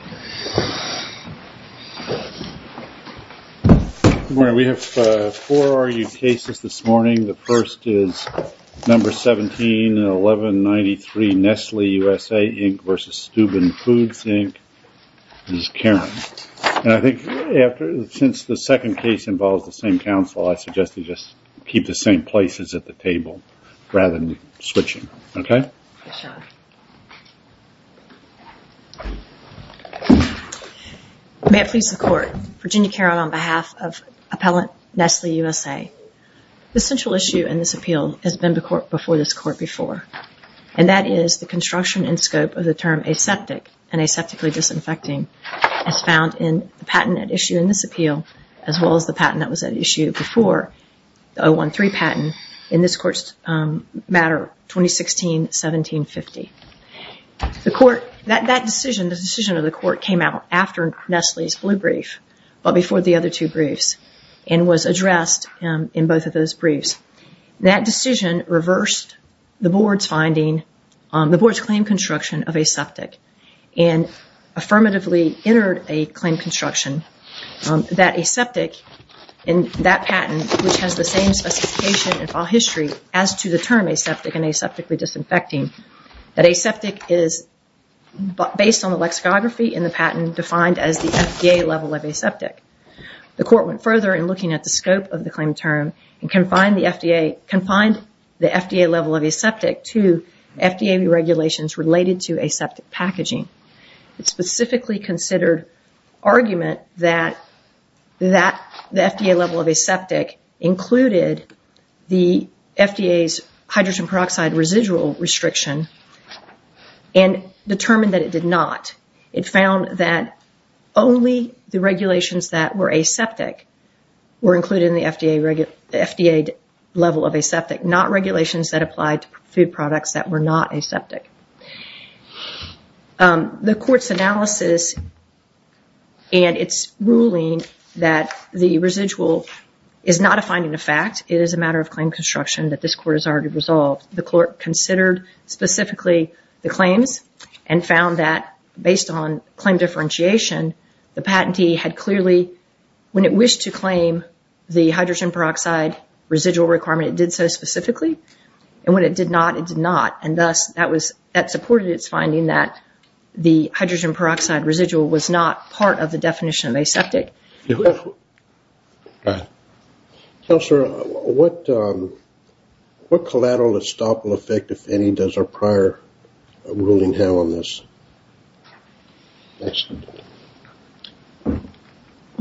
Good morning. We have four argued cases this morning. The first is number 17, 1193 Nestle USA, Inc. v. Steuben Foods, Inc. This is Karen. Since the second case involves the same counsel, I suggest we just keep the same places at the table rather than switching, okay? May it please the Court. Virginia Carroll on behalf of appellant Nestle USA. The central issue in this appeal has been before this Court before, and that is the construction and scope of the term aseptic and aseptically disinfecting as found in the patent at issue in this appeal as well as the patent that was at issue before, the 013 patent in this Court's matter 2016-17-50. The Court, that decision, the decision of the Court came out after Nestle's blue brief, but before the other two briefs, and was addressed in both of those briefs. That decision reversed the Board's finding, the Board's claim construction of aseptic, and affirmatively entered a claim construction that aseptic in that patent, which has the same specification and file history as to the term aseptic and aseptically disinfecting, that aseptic is based on the lexicography in the patent defined as the FDA level of aseptic. The Court went further in looking at the scope of the claim term and confined the FDA level of aseptic to FDA regulations related to aseptic packaging. It specifically considered argument that the FDA level of aseptic included the FDA's hydrogen peroxide residual restriction and determined that it did not. It found that only the regulations that were aseptic were included in the FDA level of aseptic, not regulations that applied to food products that were not aseptic. The Court's analysis and its ruling that the residual is not a finding of fact, it is a matter of claim construction that this Court has already resolved. The Court considered specifically the claims and found that based on claim differentiation, the patentee had clearly, when it wished to claim the hydrogen peroxide residual requirement, it did so specifically. When it did not, it did not. Thus, that supported its finding that the hydrogen peroxide residual was not part of the definition of aseptic. What collateral stop will affect, if any, does our prior ruling have on this?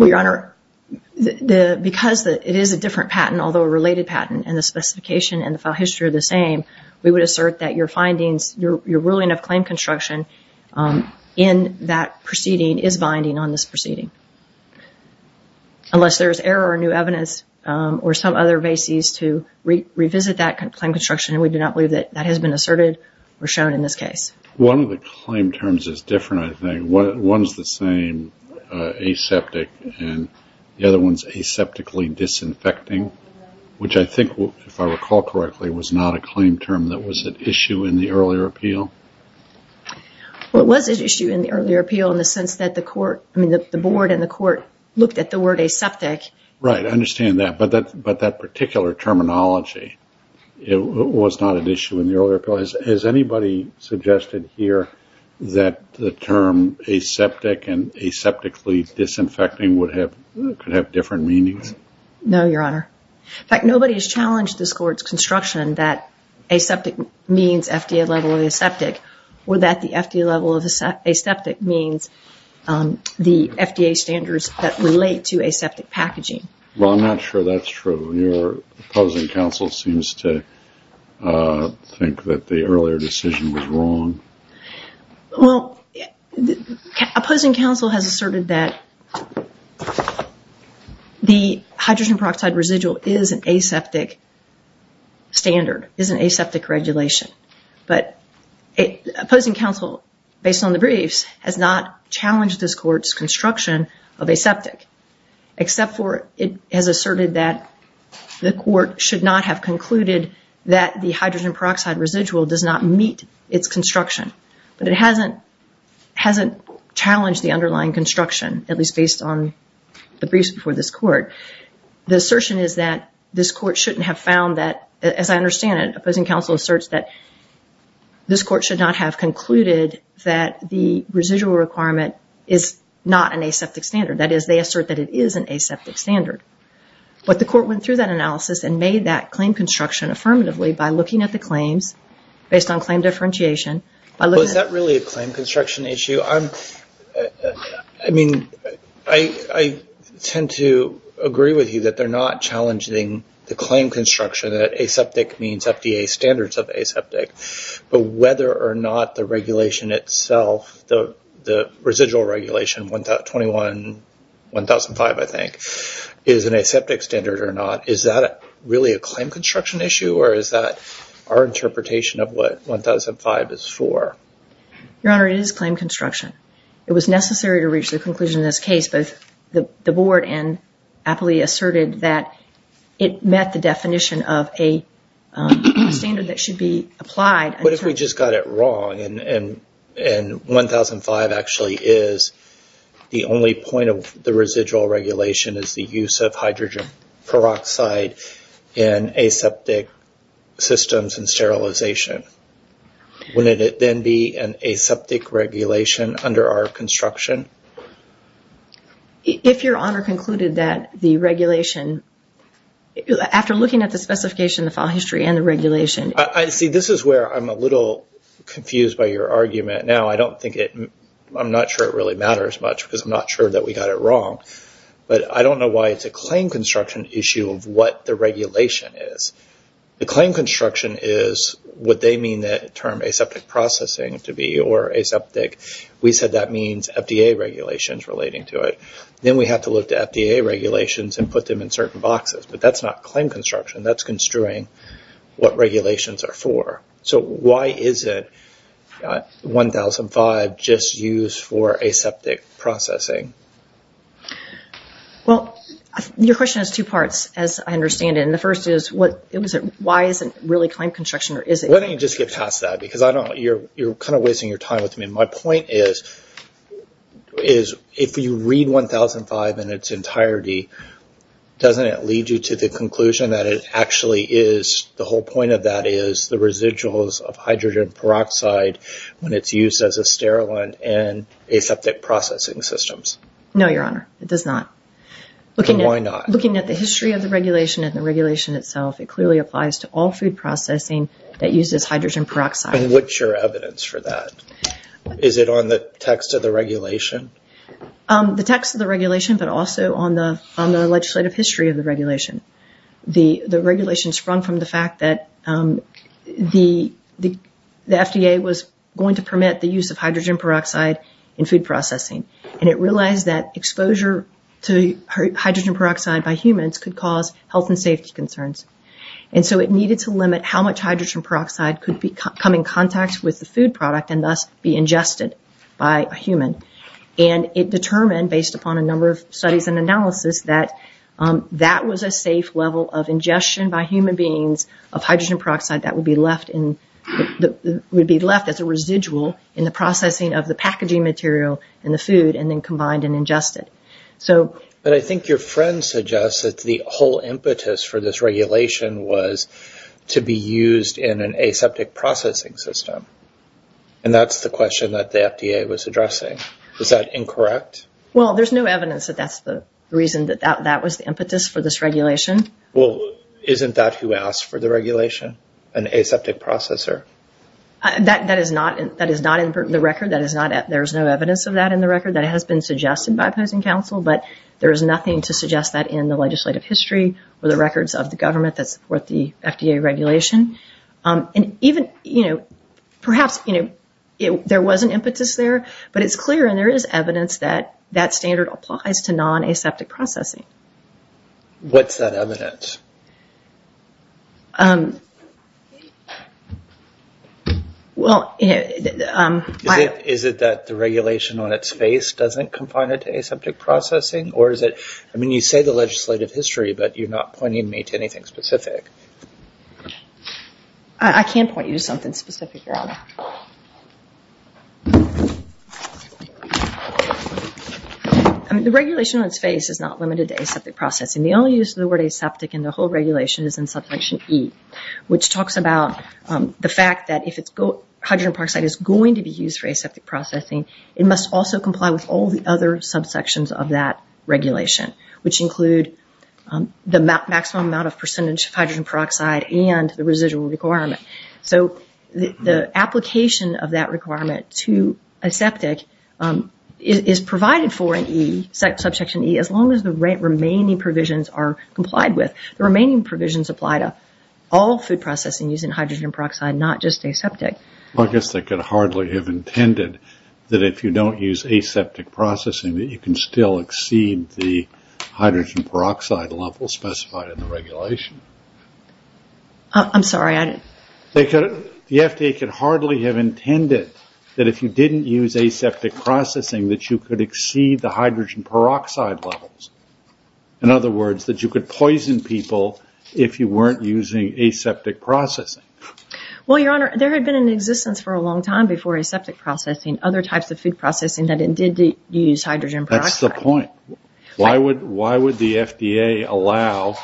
Your Honor, because it is a different patent, although a related patent, and the specification and the file history are the same, we would assert that your findings, your ruling of claim construction in that proceeding is binding on this proceeding. Unless there is error or new evidence or some other basis to revisit that claim construction, we do not believe that that has been asserted or shown in this case. One of the claim terms is different, I think. One is the same, aseptic, and the other one is aseptically disinfecting, which I think, if I recall correctly, was not a claim term that was at issue in the earlier appeal. Well, it was at issue in the earlier appeal in the sense that the Court, I mean, the Board and the Court looked at the word aseptic. Right, I understand that, but that particular terminology was not at issue in the earlier appeal. Is it suggested here that the term aseptic and aseptically disinfecting could have different meanings? No, Your Honor. In fact, nobody has challenged this Court's construction that aseptic means FDA level of the aseptic or that the FDA level of the aseptic means the FDA standards that relate to aseptic packaging. Well, I'm not sure that's true. Your opposing counsel seems to think that the earlier decision was wrong. Well, opposing counsel has asserted that the hydrogen peroxide residual is an aseptic standard, is an aseptic regulation, but opposing counsel, based on the briefs, has not challenged this Court's construction of aseptic, except for it has asserted that the Court should not have concluded that the hydrogen peroxide residual does not meet its construction. But it hasn't challenged the underlying construction, at least based on the briefs before this Court. The assertion is that this Court shouldn't have found that, as I understand it, opposing counsel asserts that this Court should not have concluded that the residual requirement is not an aseptic standard. That is, they assert that it is an aseptic standard. But the Court went through that analysis and made that claim construction affirmatively by looking at the claims, based on claim differentiation, by looking at... Well, is that really a claim construction issue? I mean, I tend to agree with you that they're not challenging the claim construction that aseptic means FDA standards of aseptic, but whether or not the regulation itself, the residual regulation, 21-1005, I think, is an aseptic standard or not, is that really a claim construction issue, or is that our interpretation of what 1005 is for? Your Honor, it is claim construction. It was necessary to reach the conclusion in this case, but the Board aptly asserted that it met the definition of a standard that should be applied... What if we just got it wrong, and 1005 actually is the only point of the residual regulation is the use of hydrogen peroxide in aseptic systems and sterilization? Would it then be an aseptic regulation under our construction? If Your Honor concluded that the regulation... After looking at the specification, the file history, and the regulation... This is where I'm a little confused by your argument. Now, I don't think it... I'm not sure it really matters much, because I'm not sure that we got it wrong, but I don't know why it's a claim construction issue of what the regulation is. The claim construction is what they mean the term aseptic processing to be, or aseptic. We said that means FDA regulations relating to it. Then we have to look to FDA regulations and put them in certain boxes, but that's not claim construction. That's construing what regulations are for. Why isn't 1005 just used for aseptic processing? Your question has two parts, as I understand it. The first is, why isn't it really claim construction, or is it? Why don't you just get past that? You're kind of wasting your time with me. My point is, if you read 1005 in its entirety, doesn't it lead you to the conclusion that it actually is... The whole point of that is the residuals of hydrogen peroxide when it's used as a sterilant in aseptic processing systems. No, Your Honor. It does not. Why not? Looking at the history of the regulation and the regulation itself, it clearly applies to all food processing that uses hydrogen peroxide. What's your evidence for that? Is it on the text of the regulation? The text of the regulation, but also on the legislative history of the regulation. The regulation sprung from the fact that the FDA was going to permit the use of hydrogen peroxide in food processing. It realized that exposure to hydrogen peroxide by humans could cause health and safety concerns. It needed to limit how much hydrogen peroxide could come in contact with the food product and thus be ingested by a human. It determined, based upon a number of studies and analysis, that that was a safe level of ingestion by human beings of hydrogen peroxide that would be left as a residual in the processing of the packaging material in the food and then combined and ingested. I think your friend suggests that the whole impetus for this regulation was to be used in an aseptic processing system. That's the question that the FDA was addressing. Is that incorrect? There's no evidence that that's the reason that that was the impetus for this regulation. Isn't that who asked for the regulation? An aseptic processor? That is not in the record. There's no evidence of that in the record. That has been suggested by opposing counsel, but there is nothing to suggest that in the legislative history or the records of the government that support the FDA regulation. Perhaps there was an impetus there, but it's clear and there is evidence that that standard applies to non-aseptic processing. What's that evidence? Is it that the regulation on its face doesn't confine it to aseptic processing? You say the legislative history, but you're not pointing me to anything specific. I can point you to something specific, Your Honor. The regulation on its face is not limited to aseptic processing. The only use of the word aseptic in the whole regulation is in Subsection E, which talks about the fact that if hydrogen peroxide is going to be used for aseptic processing, it must also comply with all the other subsections of that regulation, which include the maximum amount of percentage of hydrogen peroxide and the residual requirement. The application of that requirement to aseptic is provided for in E, Subsection E, as long as the remaining provisions are complied with. The remaining provisions apply to all food processing using hydrogen peroxide, not just aseptic. I guess they could hardly have intended that if you don't use aseptic processing, that you can still exceed the hydrogen peroxide level specified in the regulation. The FDA could hardly have intended that if you didn't use aseptic processing, that you could exceed the hydrogen peroxide levels. In other words, that you could poison people if you weren't using aseptic processing. Well, Your Honor, there had been an existence for a long time before aseptic processing, other types of food processing that did use hydrogen peroxide. That's the point. Why would the FDA allow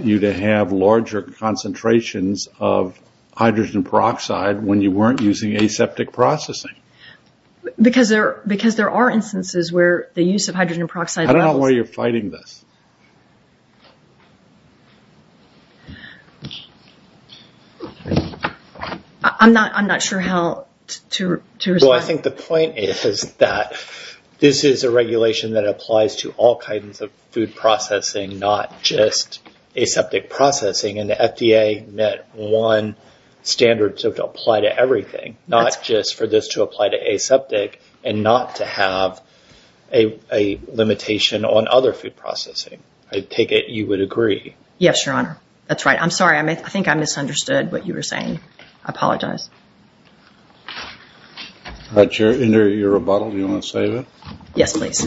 you to have larger concentrations of hydrogen peroxide when you weren't using aseptic processing? Because there are instances where the use of hydrogen peroxide levels... I'm not sure how to respond. I think the point is that this is a regulation that applies to all kinds of food processing, not just aseptic processing. The FDA met one standard to apply to everything, not just for this to apply to aseptic and not to have a limitation on other food processing. I take it you would agree. Yes, Your Honor. That's right. I'm sorry. I think I misunderstood what you were saying. I apologize. Under your rebuttal, do you want to say anything? Yes, please.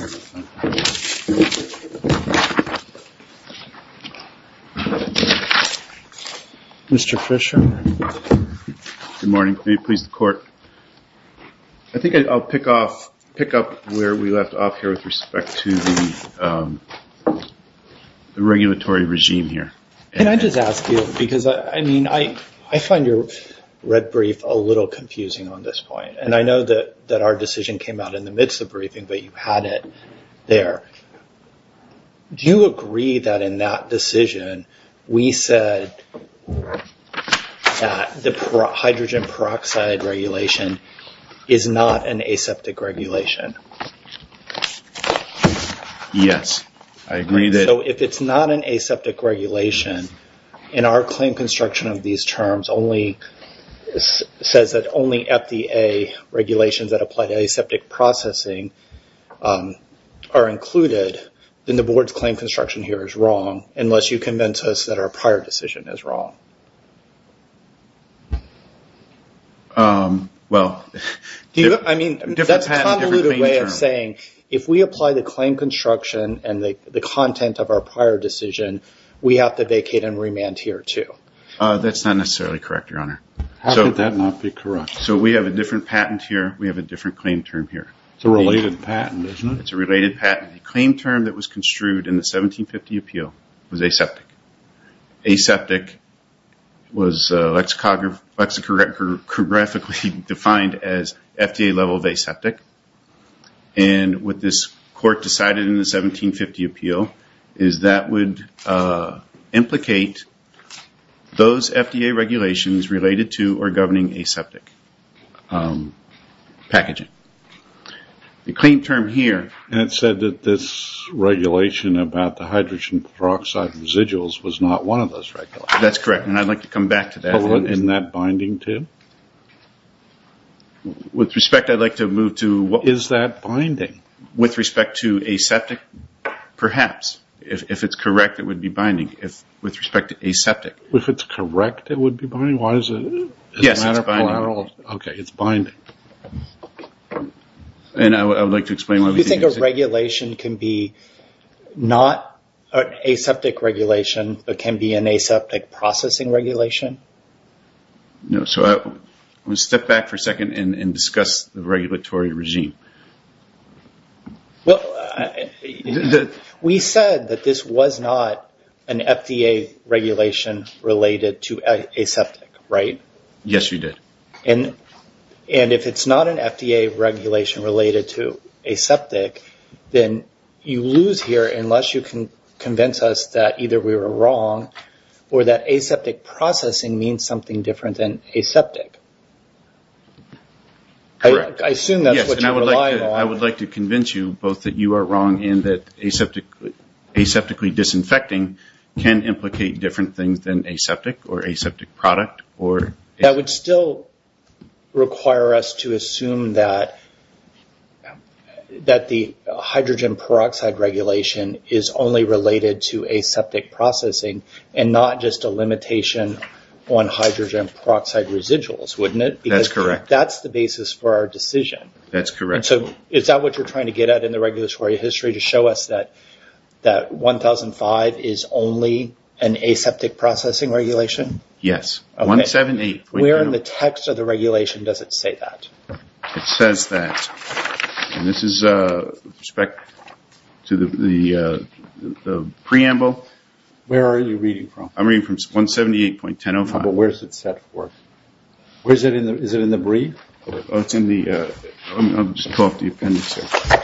Mr. Fisher? Good morning. May it please the Court? I think I'll pick up where we left off here with respect to the regulatory regime here. Can I just ask you, because I find your red brief a little confusing on this point. I know that our decision came out in the midst of the briefing, but you had it there. Do you agree that in that decision we said that the hydrogen peroxide regulation is not an aseptic regulation? Yes, I agree that... If it's not an aseptic regulation, in our claim construction of these terms, it says that only FDA regulations that apply to aseptic processing are included, then the Board's claim construction here is wrong, unless you convince us that our prior decision is wrong. Well, different patent, different main term. That's a convoluted way of saying, if we apply the claim construction and the content of our prior decision, we have to vacate and remand here, too. That's not necessarily correct, Your Honor. How could that not be correct? We have a different patent here. We have a different claim term here. It's a related patent, isn't it? It's a related patent. The claim term that was construed in the 1750 appeal was aseptic. Aseptic was lexicographically defined as FDA level of aseptic. What this Court decided in the 1750 appeal is that would implicate those FDA regulations related to aseptic packaging. The claim term here... It said that this regulation about the hydrogen peroxide residuals was not one of those regulations. That's correct, and I'd like to come back to that. Isn't that binding, too? With respect, I'd like to move to... Is that binding? With respect to aseptic, perhaps. If it's correct, it would be binding. With respect to aseptic. If it's correct, it would be binding. Why is it... Yes, it's binding. Okay, it's binding. I'd like to explain why we think it's... Do you think a regulation can be not an aseptic regulation, but can be an aseptic processing regulation? No. I'm going to step back for a second and discuss the regulatory regime. Well, we said that this was not an FDA regulation related to aseptic, right? Yes, we did. If it's not an FDA regulation related to aseptic, then you lose here unless you can convince us that either we were wrong or that aseptic processing means something different than aseptic. Correct. I assume that's what you're relying on. Yes, and I would like to convince you both that you are wrong and that aseptically disinfecting can implicate different things than aseptic or aseptic product or... That would still require us to assume that the hydrogen peroxide regulation is only related to aseptic processing and not just a limitation on hydrogen peroxide residuals, wouldn't it? That's correct. That's the basis for our decision. That's correct. Is that what you're trying to get at in the regulatory history to show us that 1005 is only an aseptic processing regulation? Yes. Where in the text of the regulation does it say that? It says that. This is with respect to the preamble. Where are you reading from? I'm reading from 178.10.05. Where is it set for? Is it in the brief? It's in the... I'll just pull up the appendix here.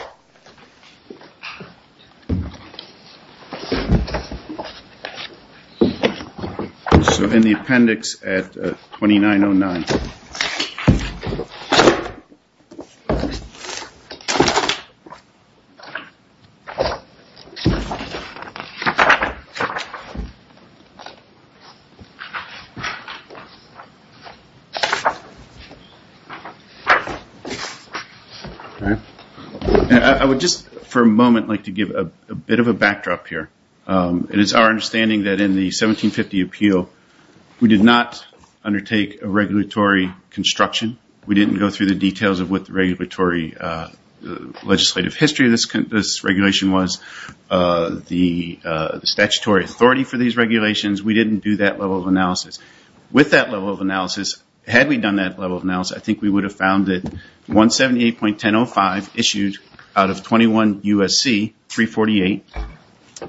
In the appendix at 2909. I would just for a moment like to give a bit of a backdrop here. It is our understanding that in the 1750 appeal, we did not undertake a regulatory construction. We didn't go through the details of what the regulatory legislative history of this regulation was, the statutory authority for these regulations. We didn't do that level of analysis. With that level of analysis, had we done that level of analysis, I think we would have found that 178.10.05 issued out of 21 U.S.C. 348,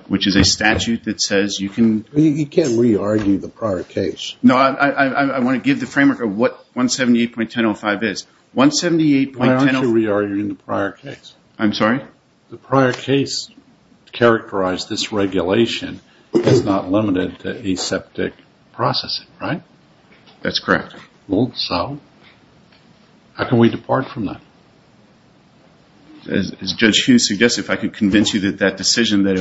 which is a statute that says you can... You can't re-argue the prior case. No. I want to give the framework of what 178.10.05 is. Why aren't you re-arguing the prior case? I'm sorry? The prior case characterized this regulation as not limited to aseptic processing, right? That's correct. Well, so how can we depart from that? As Judge Hughes suggested, if I could convince you that that decision that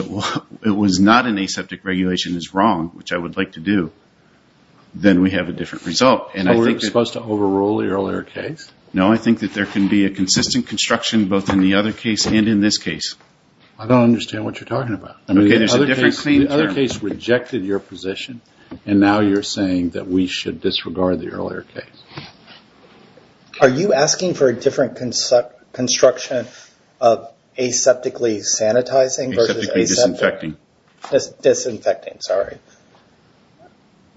it was not an aseptic regulation is wrong, which I would like to do, then we have a different result. Are we supposed to overrule the earlier case? No, I think that there can be a consistent construction both in the other case and in this case. I don't understand what you're talking about. Okay, there's a different claim term. The other case rejected your position, and now you're saying that we should disregard the earlier case. Are you asking for a different construction of aseptically sanitizing versus aseptically disinfecting? Disinfecting, sorry.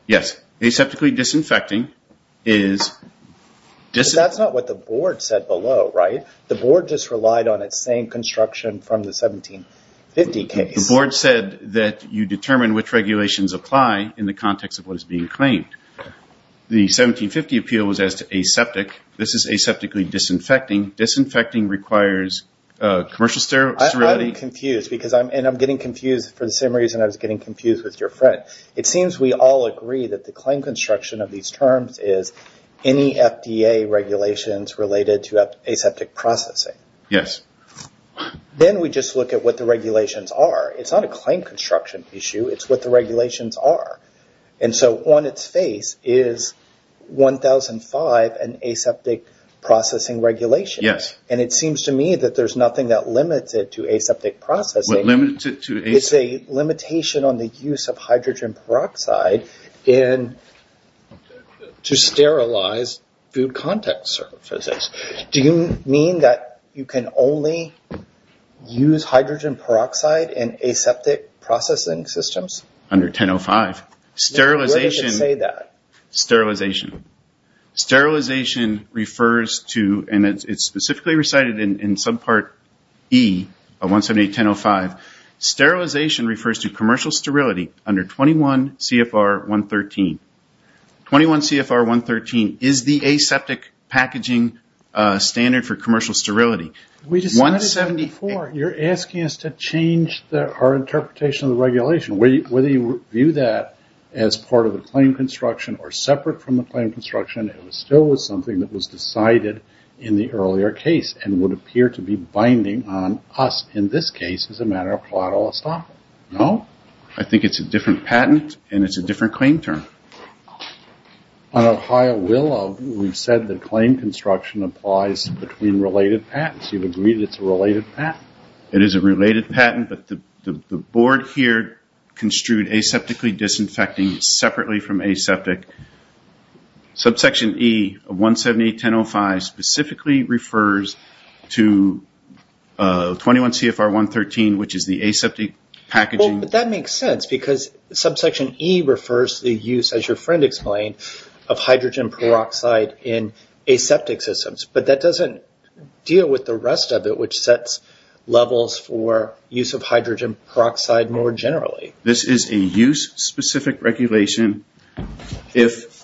Yes. Aseptically disinfecting is... That's not what the board said below, right? The board just relied on its same construction from the 1750 case. The board said that you determine which regulations apply in the context of what is being claimed. The 1750 appeal was as to aseptic. This is aseptically disinfecting. Disinfecting requires commercial sterility. I'm confused, and I'm getting confused for the same reason I was getting confused with your friend. It seems we all agree that the claim construction of these terms is any FDA regulations related to aseptic processing. Yes. Then we just look at what the regulations are. It's not a claim construction issue. It's what the regulations are. On its face is 1005, an aseptic processing regulation, and it seems to me that there's What limits it to aseptic? It's a limitation on the use of hydrogen peroxide to sterilize food contact surfaces. Do you mean that you can only use hydrogen peroxide in aseptic processing systems? Under 1005. Sterilization... Where does it say that? Sterilization. Sterilization refers to, and it's specifically recited in subpart E of 178.10.05. Sterilization refers to commercial sterility under 21 CFR 113. 21 CFR 113 is the aseptic packaging standard for commercial sterility. We just... 174. You're asking us to change our interpretation of the regulation, whether you view that as part of the claim construction or separate from the claim construction, it was still was something that was decided in the earlier case and would appear to be binding on us in this case as a matter of collateral estoppel. No. I think it's a different patent and it's a different claim term. On a higher will, we've said the claim construction applies between related patents. You've agreed it's a related patent. It is a related patent, but the board here construed aseptically disinfecting separately from aseptic. Subsection E of 178.10.05 specifically refers to 21 CFR 113, which is the aseptic packaging. That makes sense because subsection E refers to the use, as your friend explained, of hydrogen peroxide in aseptic systems, but that doesn't deal with the rest of it, which sets levels for use of hydrogen peroxide more generally. This is a use-specific regulation. If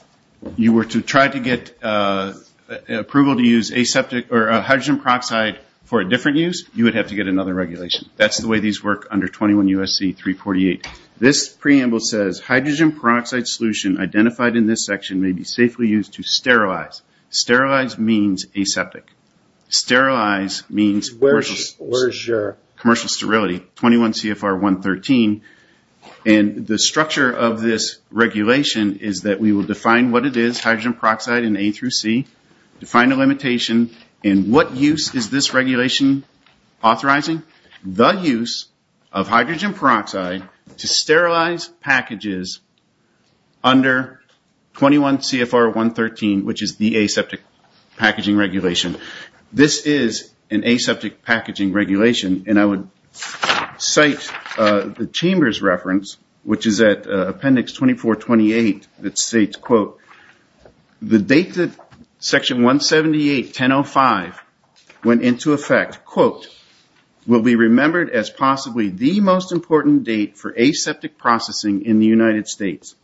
you were to try to get approval to use hydrogen peroxide for a different use, you would have to get another regulation. That's the way these work under 21 USC 348. This preamble says, hydrogen peroxide solution identified in this section may be safely used to sterilize. Sterilize means aseptic. Sterilize means commercial sterility. The structure of this regulation is that we will define what it is, hydrogen peroxide, in A through C, define a limitation, and what use is this regulation authorizing? The use of hydrogen peroxide to sterilize packages under 21 CFR 113, which is the aseptic packaging regulation. This is an aseptic packaging regulation, and I would cite the chamber's reference, which is at appendix 2428, that states, quote, the date that section 178.10.05 went into effect, quote, will be remembered as possibly the most important date for aseptic processing in the United States.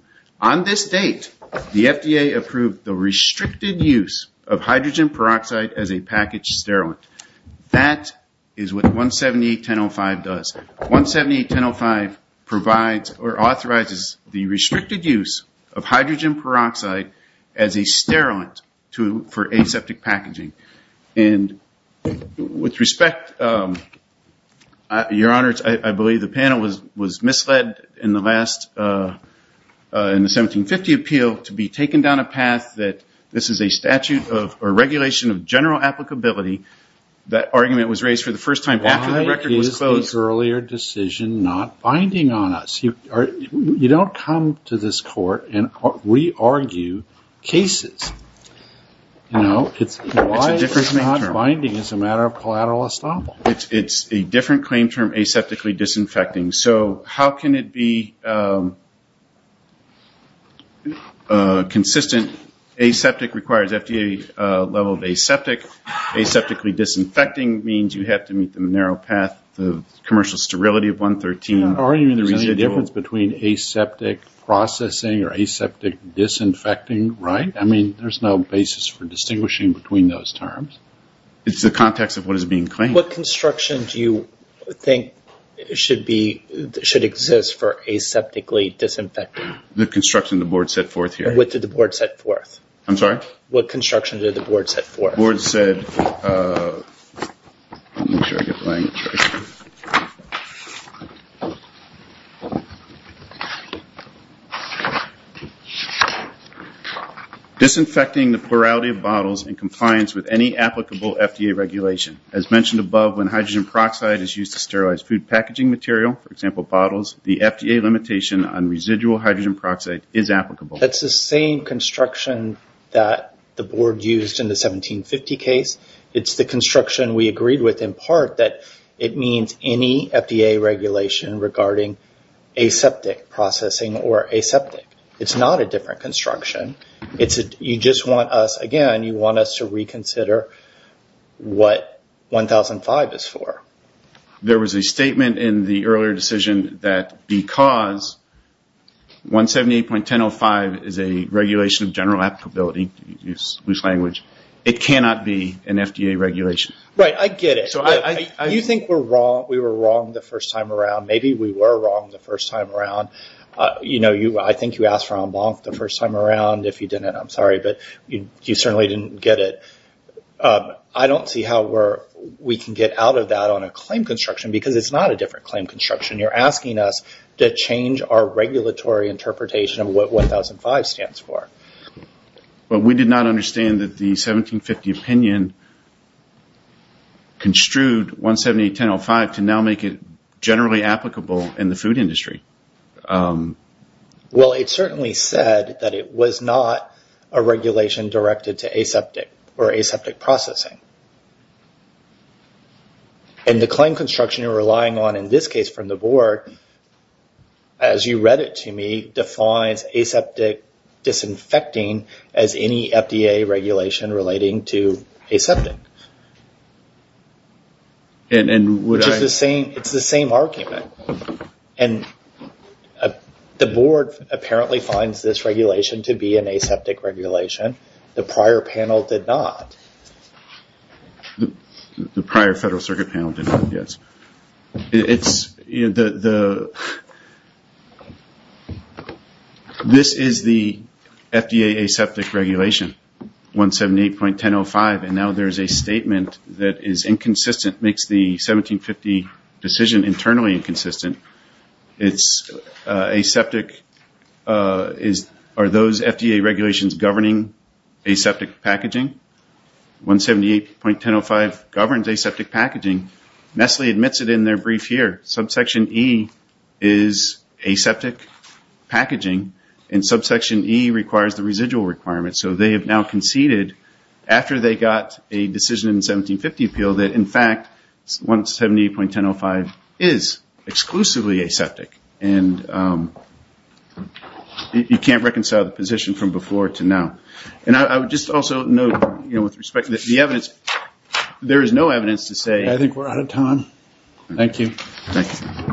On this date, the FDA approved the restricted use of hydrogen peroxide as a packaged sterilant. That is what 178.10.05 does. 178.10.05 provides or authorizes the restricted use of hydrogen peroxide as a sterilant for aseptic packaging. And with respect, Your Honor, I believe the panel was misled in the 1750 appeal to be taken down a path that this is a statute of, or regulation of general applicability. That argument was raised for the first time after the record was closed. Why is this earlier decision not binding on us? You don't come to this court and re-argue cases. You know, it's why it's not binding is a matter of collateral estoppel. It's a different claim term, aseptically disinfecting. So how can it be consistent? Aseptic requires FDA level of aseptic. Aseptically disinfecting means you have to meet the narrow path of commercial sterility of 113. You're not arguing there's any difference between aseptic processing or aseptic disinfecting, right? I mean, there's no basis for distinguishing between those terms. It's the context of what is being claimed. What construction do you think should exist for aseptically disinfecting? The construction the board set forth here. What did the board set forth? I'm sorry? What construction did the board set forth? The board said, let me make sure I get the language right. Disinfecting the plurality of bottles in compliance with any applicable FDA regulation. As mentioned above, when hydrogen peroxide is used to sterilize food packaging material, for example, bottles, the FDA limitation on residual hydrogen peroxide is applicable. That's the same construction that the board used in the 1750 case. It's the construction we agreed with in part that it means any FDA regulation regarding aseptic processing or aseptic. It's not a different construction. You just want us, again, you want us to reconsider what 1005 is for. There was a statement in the earlier decision that because 178.1005 is a regulation of general applicability, loose language, it cannot be an FDA regulation. Right, I get it. You think we were wrong the first time around. Maybe we were wrong the first time around. I think you asked Ron Blonk the first time around. If you didn't, I'm sorry, but you certainly didn't get it. I don't see how we can get out of that on a claim construction because it's not a different claim construction. You're asking us to change our regulatory interpretation of what 1005 stands for. We did not understand that the 1750 opinion construed 178.1005 to now make it generally applicable in the food industry. Well, it certainly said that it was not a regulation directed to aseptic or aseptic processing. The claim construction you're relying on in this case from the board, as you read it to me, defines aseptic disinfecting as any FDA regulation relating to aseptic. It's the same argument. The board apparently finds this regulation to be an aseptic regulation. The prior panel did not. The prior federal circuit panel did not, yes. This is the FDA aseptic regulation, 178.1005, and now there's a statement that is inconsistent, makes the 1750 decision internally inconsistent. Are those FDA regulations governing aseptic packaging? 178.1005 governs aseptic packaging. Nestle admits it in their brief here. Subsection E is aseptic packaging, and subsection E requires the residual requirement, so they have now conceded after they got a decision in the 1750 appeal that, in fact, 178.1005 is exclusively aseptic, and you can't reconcile the position from before to now. I would just also note, with respect to the evidence, there is no evidence to say... I think we're out of time. Thank you. Thank you. Just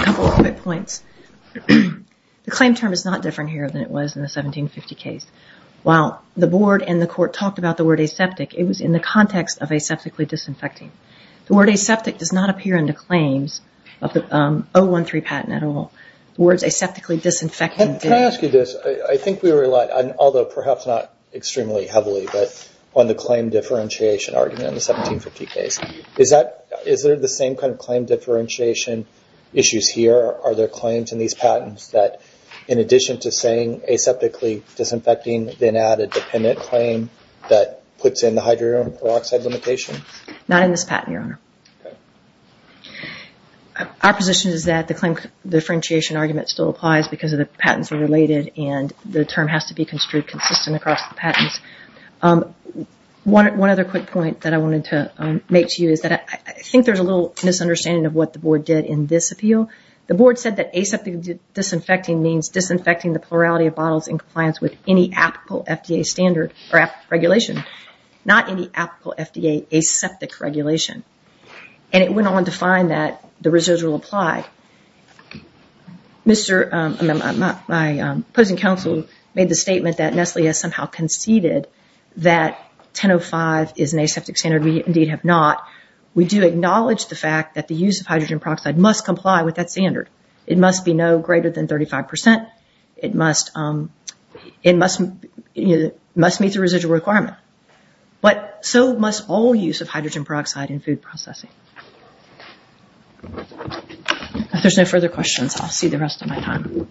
a couple of quick points. The claim term is not different here than it was in the 1750 case. While the board and the court talked about the word aseptic, it was in the context of aseptically disinfecting. The word aseptic does not appear in the claims of the 013 patent at all. The words aseptically disinfecting didn't. Can I ask you this? I think we relied, although perhaps not extremely heavily, but on the claim differentiation argument in the 1750 case. Is there the same kind of claim differentiation issues here? Are there claims in these patents that, in addition to saying aseptically disinfecting, then add a dependent claim that puts in the hydrogen peroxide limitation? Not in this patent, Your Honor. Our position is that the claim differentiation argument still applies because the patents are related and the term has to be construed consistent across the patents. One other quick point that I wanted to make to you is that I think there's a little misunderstanding of what the board did in this appeal. The board said that aseptic disinfecting means disinfecting the plurality of bottles in compliance with any applicable FDA standard or regulation, not any applicable FDA aseptic regulation. It went on to find that the reserves will apply. My opposing counsel made the statement that Nestle has somehow conceded that 10.05 is an aseptic standard. We indeed have not. We do acknowledge the fact that the use of hydrogen peroxide must comply with that standard. It must be no greater than 35 percent. It must meet the residual requirement, but so must all use of hydrogen peroxide in food processing. If there's no further questions, I'll see the rest of my time.